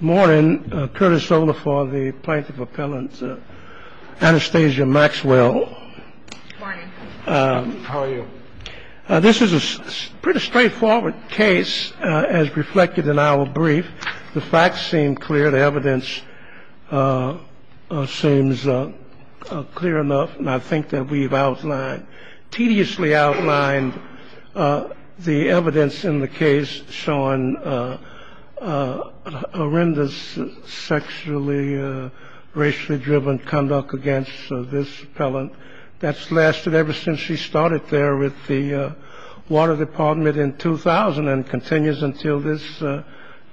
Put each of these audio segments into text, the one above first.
morning Curtis over for the plaintiff appellant Anastasia Maxwell this is a pretty straightforward case as reflected in our brief the facts seem clear the evidence seems clear enough and I think that we've outlined tediously outlined the evidence in the case showing horrendous sexually racially driven conduct against this appellant that's lasted ever since she started there with the water department in 2000 and continues until this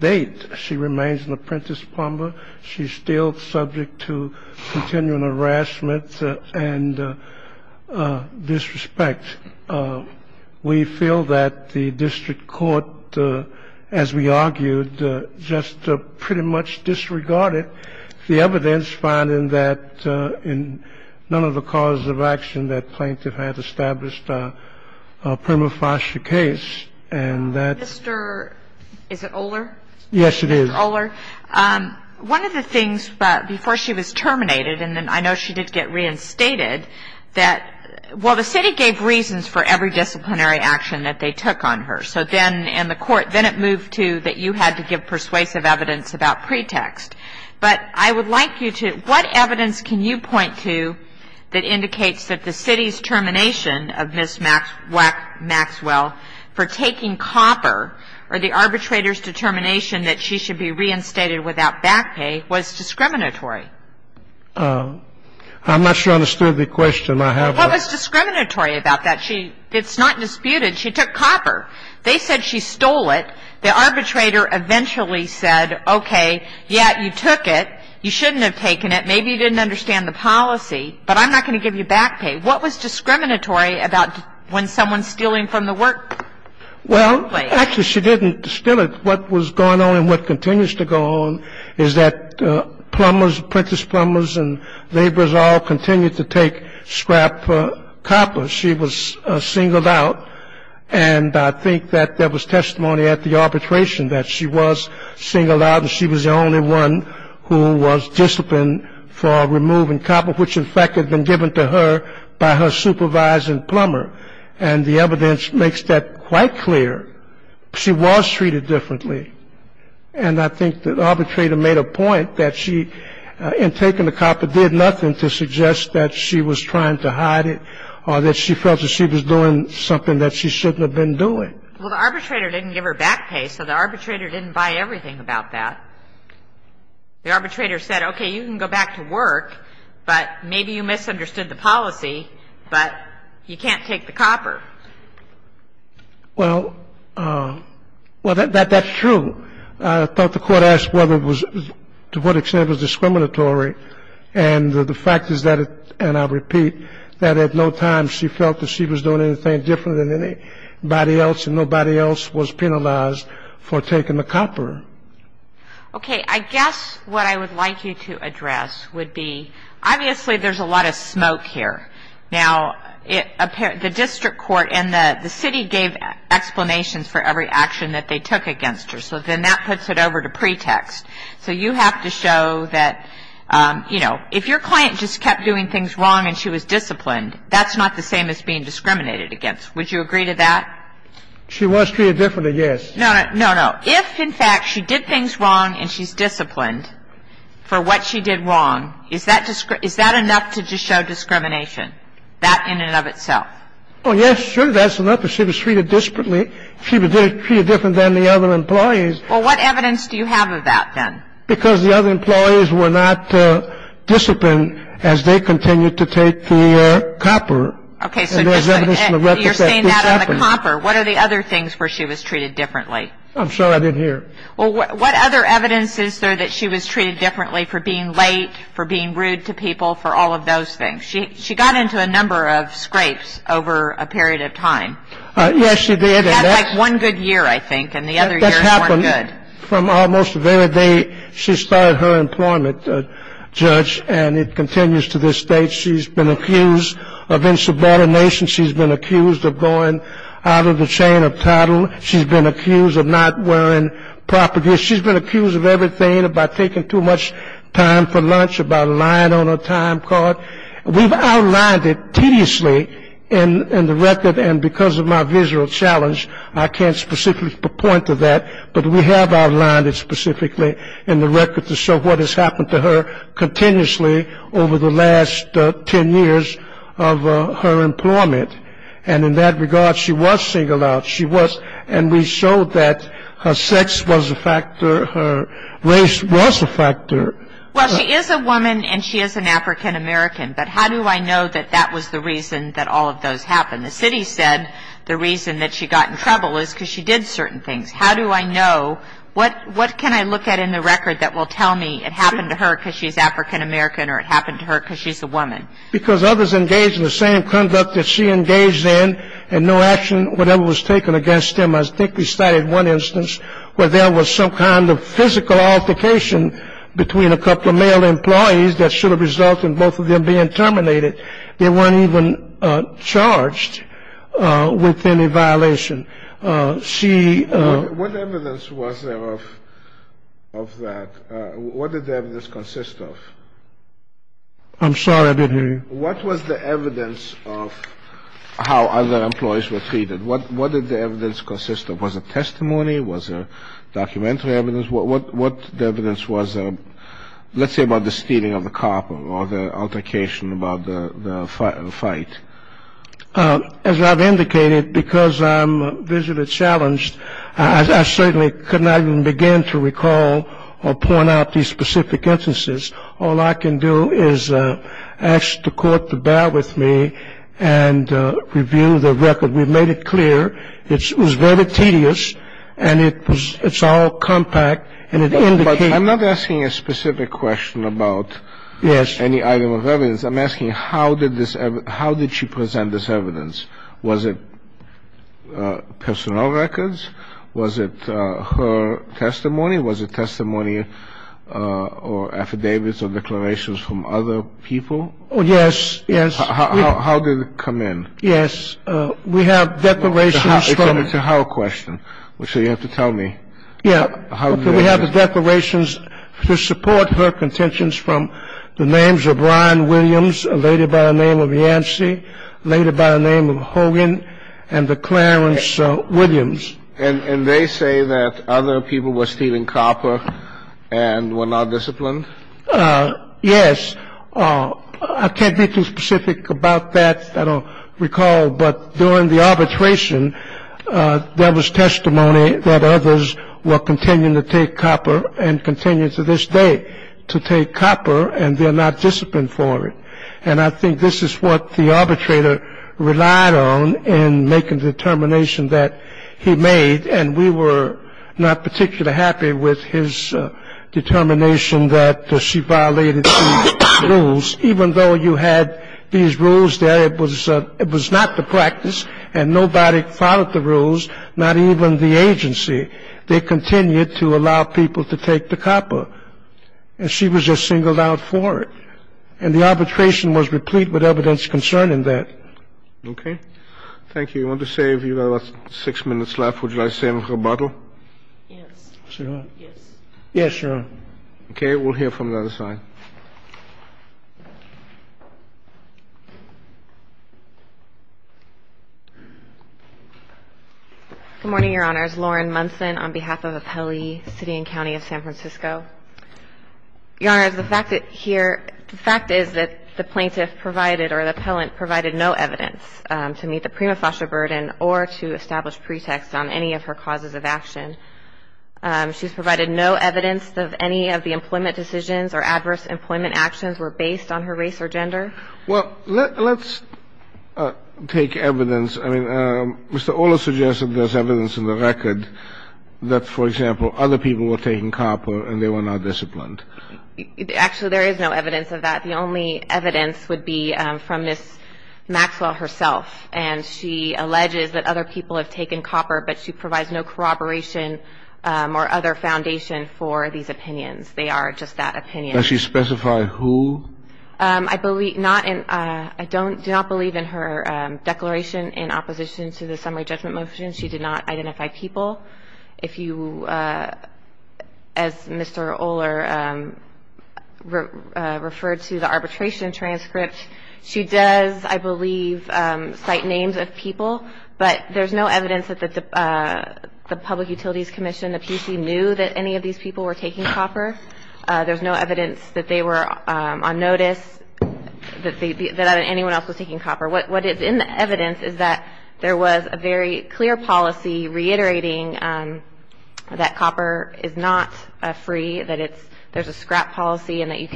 date she remains an apprentice plumber she's still subject to continuing harassment and disrespect we feel that the district court as we argued just pretty much disregarded the evidence finding that in none of the causes of action that plaintiff had established a prima facie case and that Mr. is it Oler yes it is Oler one of the things but before she was terminated and then I know she did get reinstated that well the city gave reasons for every disciplinary action that they took on her so then in the court then it moved to that you had to give persuasive evidence about pretext but I would like you to what evidence can you point to that indicates that the city's termination of Miss Maxwell for taking copper or the arbitrators determination that she should be reinstated without back pay was discriminatory I'm not sure I understood the question I have what was discriminatory about that she it's not disputed she took copper they said she stole it the arbitrator eventually said okay yeah you took it you shouldn't have taken it maybe you didn't understand the policy but I'm not going to give you back pay what was discriminatory about when someone's stealing from the work well actually she didn't steal it what was going on and what continues to go on is that plumbers apprentice plumbers and laborers all continue to take scrap copper she was singled out and I think that there was testimony at the arbitration that she was singled out and she was the only one who was disciplined for removing copper which in fact had been given to her by her supervisor and plumber and the evidence makes that quite clear she was treated differently and I think that arbitrator made a point that she in taking the copper did nothing to suggest that she was trying to hide it or that she felt that she was doing something that she shouldn't have been doing well the arbitrator didn't give her back pay so the arbitrator didn't buy everything about that the arbitrator said okay you can go back to work but maybe you that that's true I thought the court asked whether it was to what extent was discriminatory and the fact is that it and I repeat that at no time she felt that she was doing anything different than anybody else and nobody else was penalized for taking the copper okay I guess what I would like you to address would be obviously there's a lot of smoke here now it appeared the district court and the the city gave explanations for every action that they took against her so then that puts it over to pretext so you have to show that you know if your client just kept doing things wrong and she was disciplined that's not the same as being discriminated against would you agree to that she was treated differently yes no no no no if in fact she did things wrong and she's disciplined for what she did wrong is that just is that enough to just show discrimination that in and of itself oh yes sure that's enough if she was treated discipline she was treated different than the other employees well what evidence do you have of that then because the other employees were not disciplined as they continue to take the copper okay so you're saying that on the copper what are the other things where she was treated differently I'm sorry I didn't hear well what other evidence is there that she was treated differently for being late for being rude to people for all of those things she she got into a number of scrapes over a period of time one good year I think and the other years weren't good from almost the very day she started her employment judge and it continues to this day she's been accused of insubordination she's been accused of going out of the chain of title she's been accused of not wearing proper gear she's been accused of everything about taking too much time for lunch about lying on a time card we've outlined it tediously in the record and because of my visual challenge I can't specifically point to that but we have outlined it specifically in the record to show what has happened to her continuously over the last ten years of her employment and in that regard she was singled out she was and we showed that her sex was a factor her race was a factor well she is a woman and she is an african-american but how do I know that that was the reason that all of those happened the city said the reason that she got in trouble is because she did certain things how do I know what what can I look at in the record that will tell me it happened to her because she's african-american or it happened to her because she's a woman because others engaged in the same conduct that she engaged in and no action whatever was taken against them I think we started one instance where there was some kind of physical altercation between a couple of male employees that should have resulted in both of them being terminated they weren't even charged with any violation see what evidence was there of of that what did the evidence consist of I'm the evidence of how other employees were treated what what did the evidence consist of was a testimony was a documentary evidence what what the evidence was a let's say about the stealing of the copper or the altercation about the fight as I've indicated because I'm visually challenged as I certainly could not even begin to recall or point out these and review the record we've made it clear it was very tedious and it was it's all compact and I'm not asking a specific question about yes any item of evidence I'm asking how did this how did she present this evidence was it personal records was it her testimony was a testimony or affidavits or how did it come in yes we have declarations to her question which you have to tell me yeah how do we have the declarations to support her contentions from the names of Brian Williams a lady by the name of Yancey later by the name of Hogan and the Clarence Williams and and they say that other people were stealing copper and were not disciplined yes I can't be too specific about that I don't recall but during the arbitration there was testimony that others were continuing to take copper and continue to this day to take copper and they're not disciplined for it and I think this is what the arbitrator relied on in making the determination that he made and we were not particularly happy with his determination that she violated the rules even though you had these rules there it was it was not the practice and nobody followed the rules not even the agency they continued to allow people to take the copper and she was just singled out for it and the arbitration was replete with evidence concerning that okay thank you you want to save you got six minutes left would yes yes sure okay we'll hear from the other side good morning your honors Lauren Munson on behalf of a Pelley City and County of San Francisco your honor is the fact that here the fact is that the plaintiff provided or the appellant provided no evidence to meet the prima facie burden or to establish pretext on any of her causes of action she's provided no evidence of any of the employment decisions or adverse employment actions were based on her race or gender well let's take evidence I mean Mr. Ola suggested this evidence in the record that for example other people were taking copper and they were not disciplined actually there is no evidence of that the only evidence would be from this Maxwell herself and she alleges that other people have taken copper but she provides no corroboration or other foundation for these opinions they are just that opinion she specified who I believe not and I don't do not believe in her declaration in opposition to the summary judgment motion she did not identify people if you as Mr. Oler referred to the arbitration transcript she does I believe cite names of people but there's no evidence that the Public Utilities Commission the PC knew that any of these people were taking copper there's no evidence that they were on notice that anyone else was taking copper what is in the evidence is that there was a very clear policy reiterating that copper is not free that it's there's a scrap policy and that you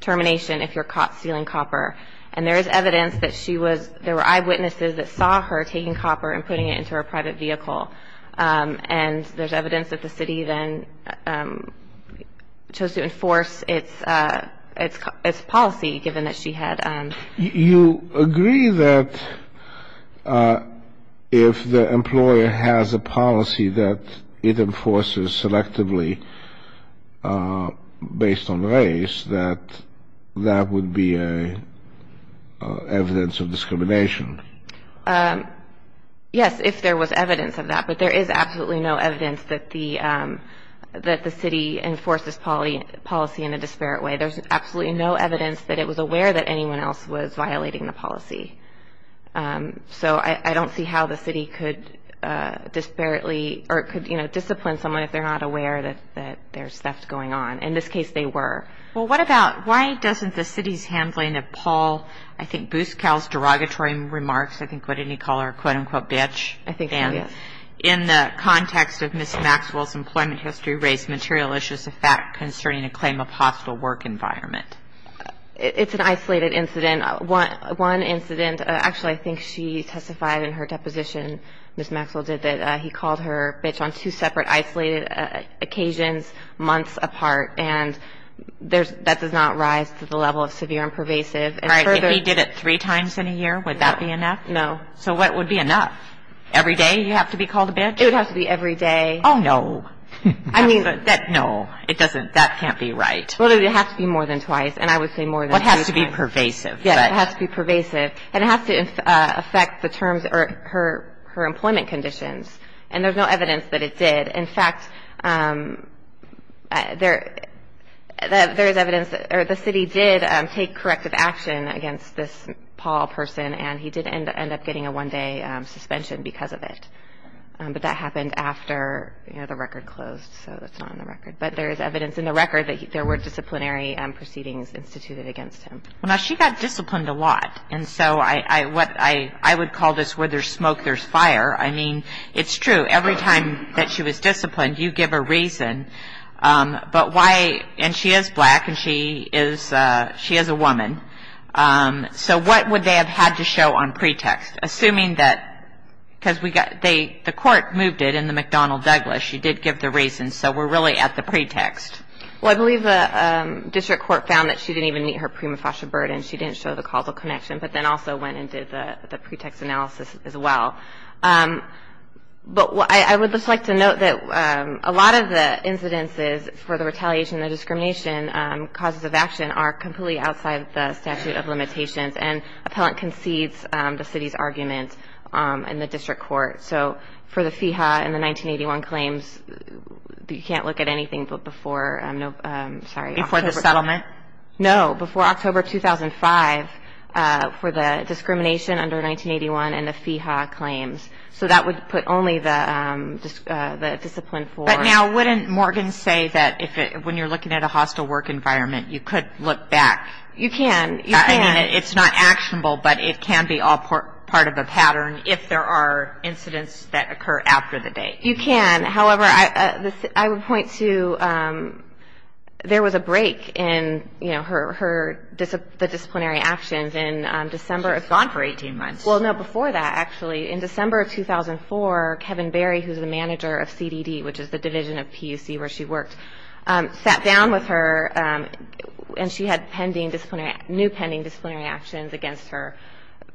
termination if you're caught stealing copper and there is evidence that she was there were eyewitnesses that saw her taking copper and putting it into her private vehicle and there's evidence that the city then chose to enforce its its policy given that she had you agree that if the employer has a policy that it enforces selectively based on race that that would be a evidence of discrimination yes if there was evidence of that but there is absolutely no evidence that the that the city enforces policy policy in a disparate way there's absolutely no evidence that it was aware that anyone else was violating the policy so I don't see how the city could disparately or could you know discipline someone if they're not aware that that there's theft going on in this case they were well what about why doesn't the city's handling of Paul I think boost cows derogatory remarks I think what did he call her quote-unquote bitch I think and in the context of Miss Maxwell's employment history race material is just a fact concerning a claim of hostile work environment it's an isolated incident I want one incident actually I think she testified in her deposition miss Maxwell did that he called her bitch on two separate isolated occasions months apart and there's that does not rise to the level of severe and pervasive and he did it three times in a year would that be enough no so what would be enough every day you have to be called a bitch it has to be every day oh no I mean that no it doesn't that can't be right well it has to be more than twice and I would say more what has to be pervasive yeah it has to be pervasive and it has to affect the terms or her her employment conditions and there's no evidence that it did in fact there there is evidence or the city did take corrective action against this Paul person and he didn't end up getting a one-day suspension because of it but that happened after you know the record closed so that's not on the record but there is evidence in the record that there were disciplinary and proceedings instituted against him well now she got disciplined a lot and so I what I I would call this where there's smoke there's fire I mean it's true every time that she was disciplined you give a reason but why and she is black and she is she is a woman so what would they have had to show on pretext assuming that because we got they the court moved it in the McDonnell Douglas she did give the reason so we're really at the district court found that she didn't even meet her prima facie burden she didn't show the causal connection but then also went and did the pretext analysis as well but what I would just like to note that a lot of the incidences for the retaliation the discrimination causes of action are completely outside the statute of limitations and appellant concedes the city's argument in the district court so for the FIHA and the 1981 claims you can't look at anything but before I'm no sorry for the settlement no before October 2005 for the discrimination under 1981 and the FIHA claims so that would put only the discipline for now wouldn't Morgan say that if it when you're looking at a hostile work environment you could look back you can yeah I mean it's not actionable but it can be all part of the pattern if there are incidents that occur after the date you can however I would point to there was a break in you know her her disciplinary actions in December it's gone for 18 months well no before that actually in December 2004 Kevin Barry who's the manager of CDD which is the division of PUC where she worked sat down with her and she had pending disciplinary new pending disciplinary actions against her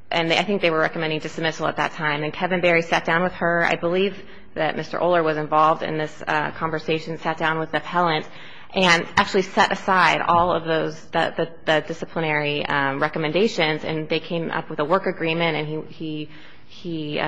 and I think they were recommending dismissal at that time and Kevin Barry sat down with her I believe that Mr. Oler was involved in this conversation sat down with the appellant and actually set aside all of those that the disciplinary recommendations and they came up with a work agreement and he he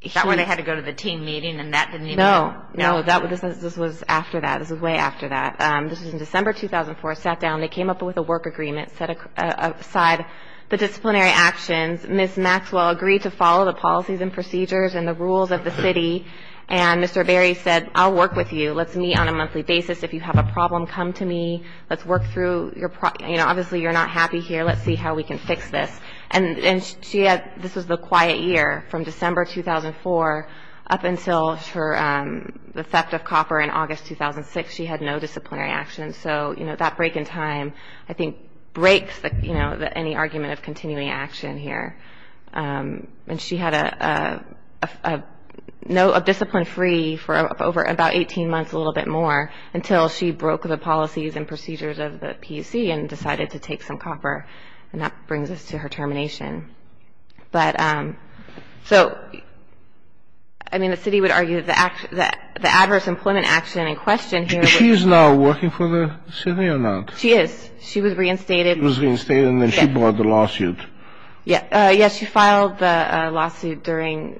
he thought where they had to go to the team meeting and that didn't know no that was this was after that this is way after that this is in December 2004 sat down they came up with a work agreement set aside the disciplinary actions miss Maxwell agreed to follow the policies and procedures and the rules of the city and mr. Barry said I'll work with you let's meet on a monthly basis if you have a problem come to me let's work through your you know obviously you're not happy here let's see how we can fix this and and she had this was the quiet year from December 2004 up until her the theft of copper in August 2006 she had no disciplinary action so you know that break in time I think breaks that you know that any argument of continuing action here and she had a no a discipline free for over about 18 months a little bit more until she broke the policies and procedures of the PC and decided to take some copper and that brings us to her termination but so I mean the city would argue that the adverse employment action in question she is now working for the city or not she is she was reinstated was reinstated and then she brought the lawsuit yeah yes she filed the lawsuit during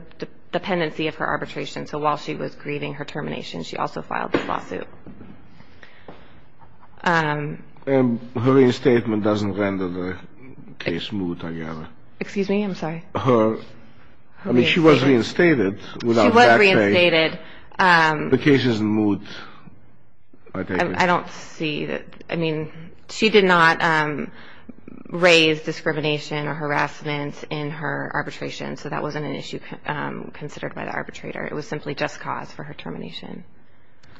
the dependency of her arbitration so while she was grieving her termination she also filed this lawsuit and her reinstatement doesn't render the case smooth together excuse me I'm sorry her I mean she was reinstated the case is moved I don't see that I mean she did not raise discrimination or harassment in her arbitration so that wasn't an issue considered by the arbitrator it was simply just cause for her termination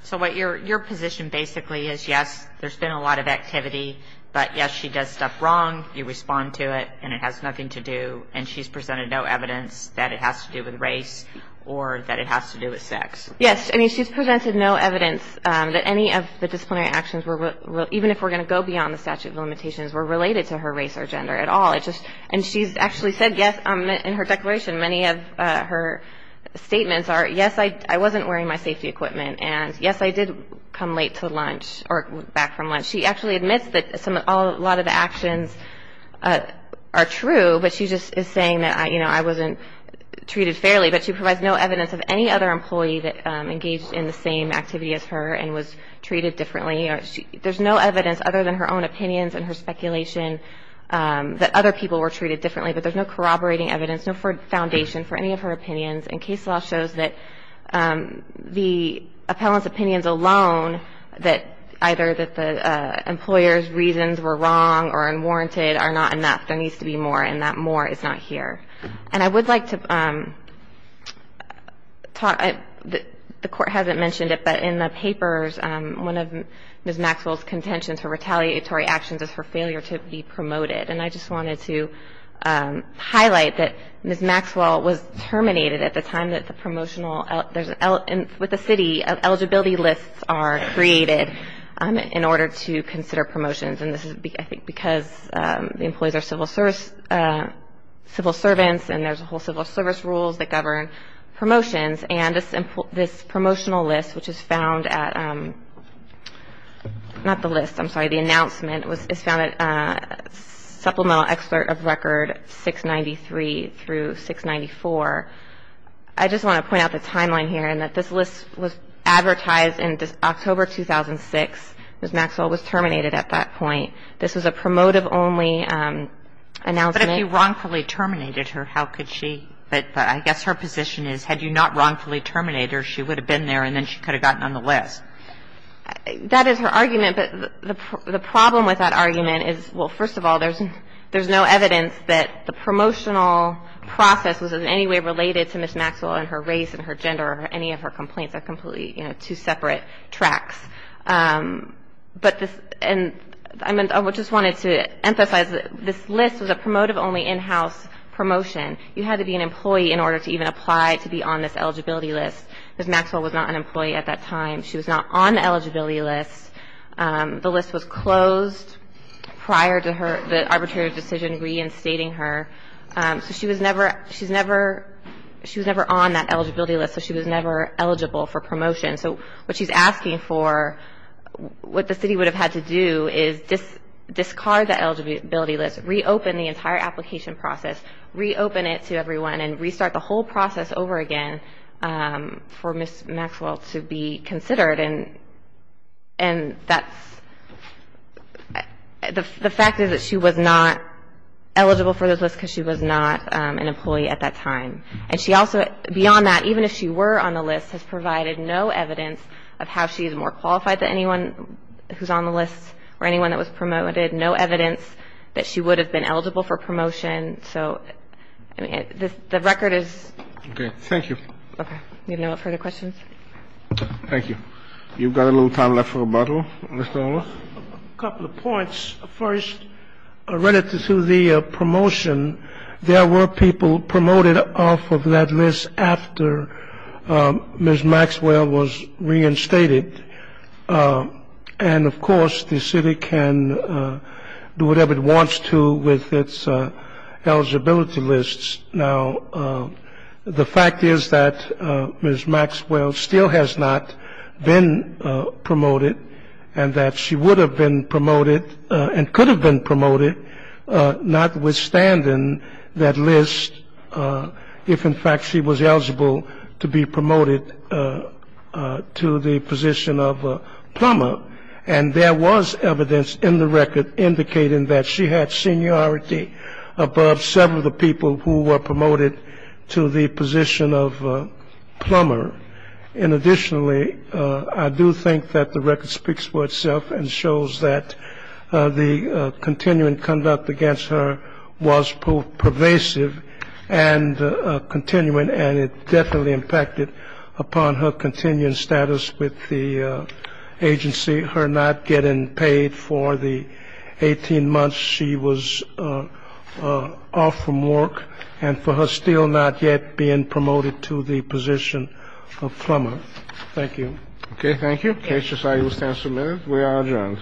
so what your your position basically is yes there's been a lot of activity but yes she does stuff wrong you respond to it and it has nothing to do and she's presented no evidence that any of the disciplinary actions were even if we're going to go beyond the statute of limitations were related to her race or gender at all it just and she's actually said yes I'm in her declaration many of her statements are yes I wasn't wearing my safety equipment and yes I did come late to lunch or back from lunch she actually admits that some a lot of the actions are true but she just is saying that I you know I wasn't treated fairly but she provides no evidence of any other employee that engaged in the same activity as her and was treated differently there's no evidence other than her own opinions and her speculation that other people were treated differently but there's no corroborating evidence no for foundation for any of her opinions and case law shows that the appellants opinions alone that either that the employers reasons were wrong or in warranted are not enough there needs to be more and that more is not here and I would like to talk the court hasn't mentioned it but in the papers one of them is Maxwell's contention to retaliatory actions is for failure to be promoted and I just wanted to highlight that Ms. Maxwell was terminated at the time that the promotional there's an L with the city of eligibility lists are created in order to consider promotions and this is because the employees are civil service civil servants and there's a whole civil service rules that govern promotions and this promotional list which is found at not the list I'm sorry the announcement was found at supplemental excerpt of record 693 through 694 I just want to point out the timeline here and that this list was October 2006 Ms. Maxwell was terminated at that point this is a promotive only announcement but if you wrongfully terminated her how could she but I guess her position is had you not wrongfully terminated her she would have been there and then she could have gotten on the list that is her argument but the problem with that argument is well first of all there's there's no evidence that the promotional process was in any way related to Ms. Maxwell and her race and her gender or any of her complaints are completely you know two separate tracks but this and I mean I just wanted to emphasize this list was a promotive only in-house promotion you had to be an employee in order to even apply to be on this eligibility list as Maxwell was not an employee at that time she was not on the eligibility list the list was closed prior to her the arbitrary decision reinstating her so she was never she's never she was never on that eligibility list so she was never eligible for promotion so what she's asking for what the city would have had to do is just discard the eligibility list reopen the entire application process reopen it to everyone and restart the whole process over again for Ms. Maxwell to be considered and and that's the fact is that she was not eligible for this list because she was not an employee at that time and she also beyond that even if she were on the list has provided no evidence of how she is more qualified than anyone who's on the list or anyone that was promoted no evidence that she would have been eligible for promotion so the record is okay thank you okay you have no further questions thank you you've got a little time left for a bottle a couple of points first related to the promotion there were people promoted off of that list after Ms. Maxwell was reinstated and of course the city can do whatever it wants to with its eligibility lists now the fact is that Ms. Maxwell still has not been promoted and that she would have been promoted and could have been promoted notwithstanding that list if in fact she was eligible to be promoted to the position of plumber and there was evidence in the record indicating that she had seniority above several of the people who were promoted to the position of plumber and additionally I do think that the record speaks for itself and shows that the continuing conduct against her was pervasive and continuing and it definitely impacted upon her continuing status with the agency her not getting paid for the 18 months she was off from work and for her still not yet being promoted to the position of plumber thank you okay thank you okay so I will stand submitted we are adjourned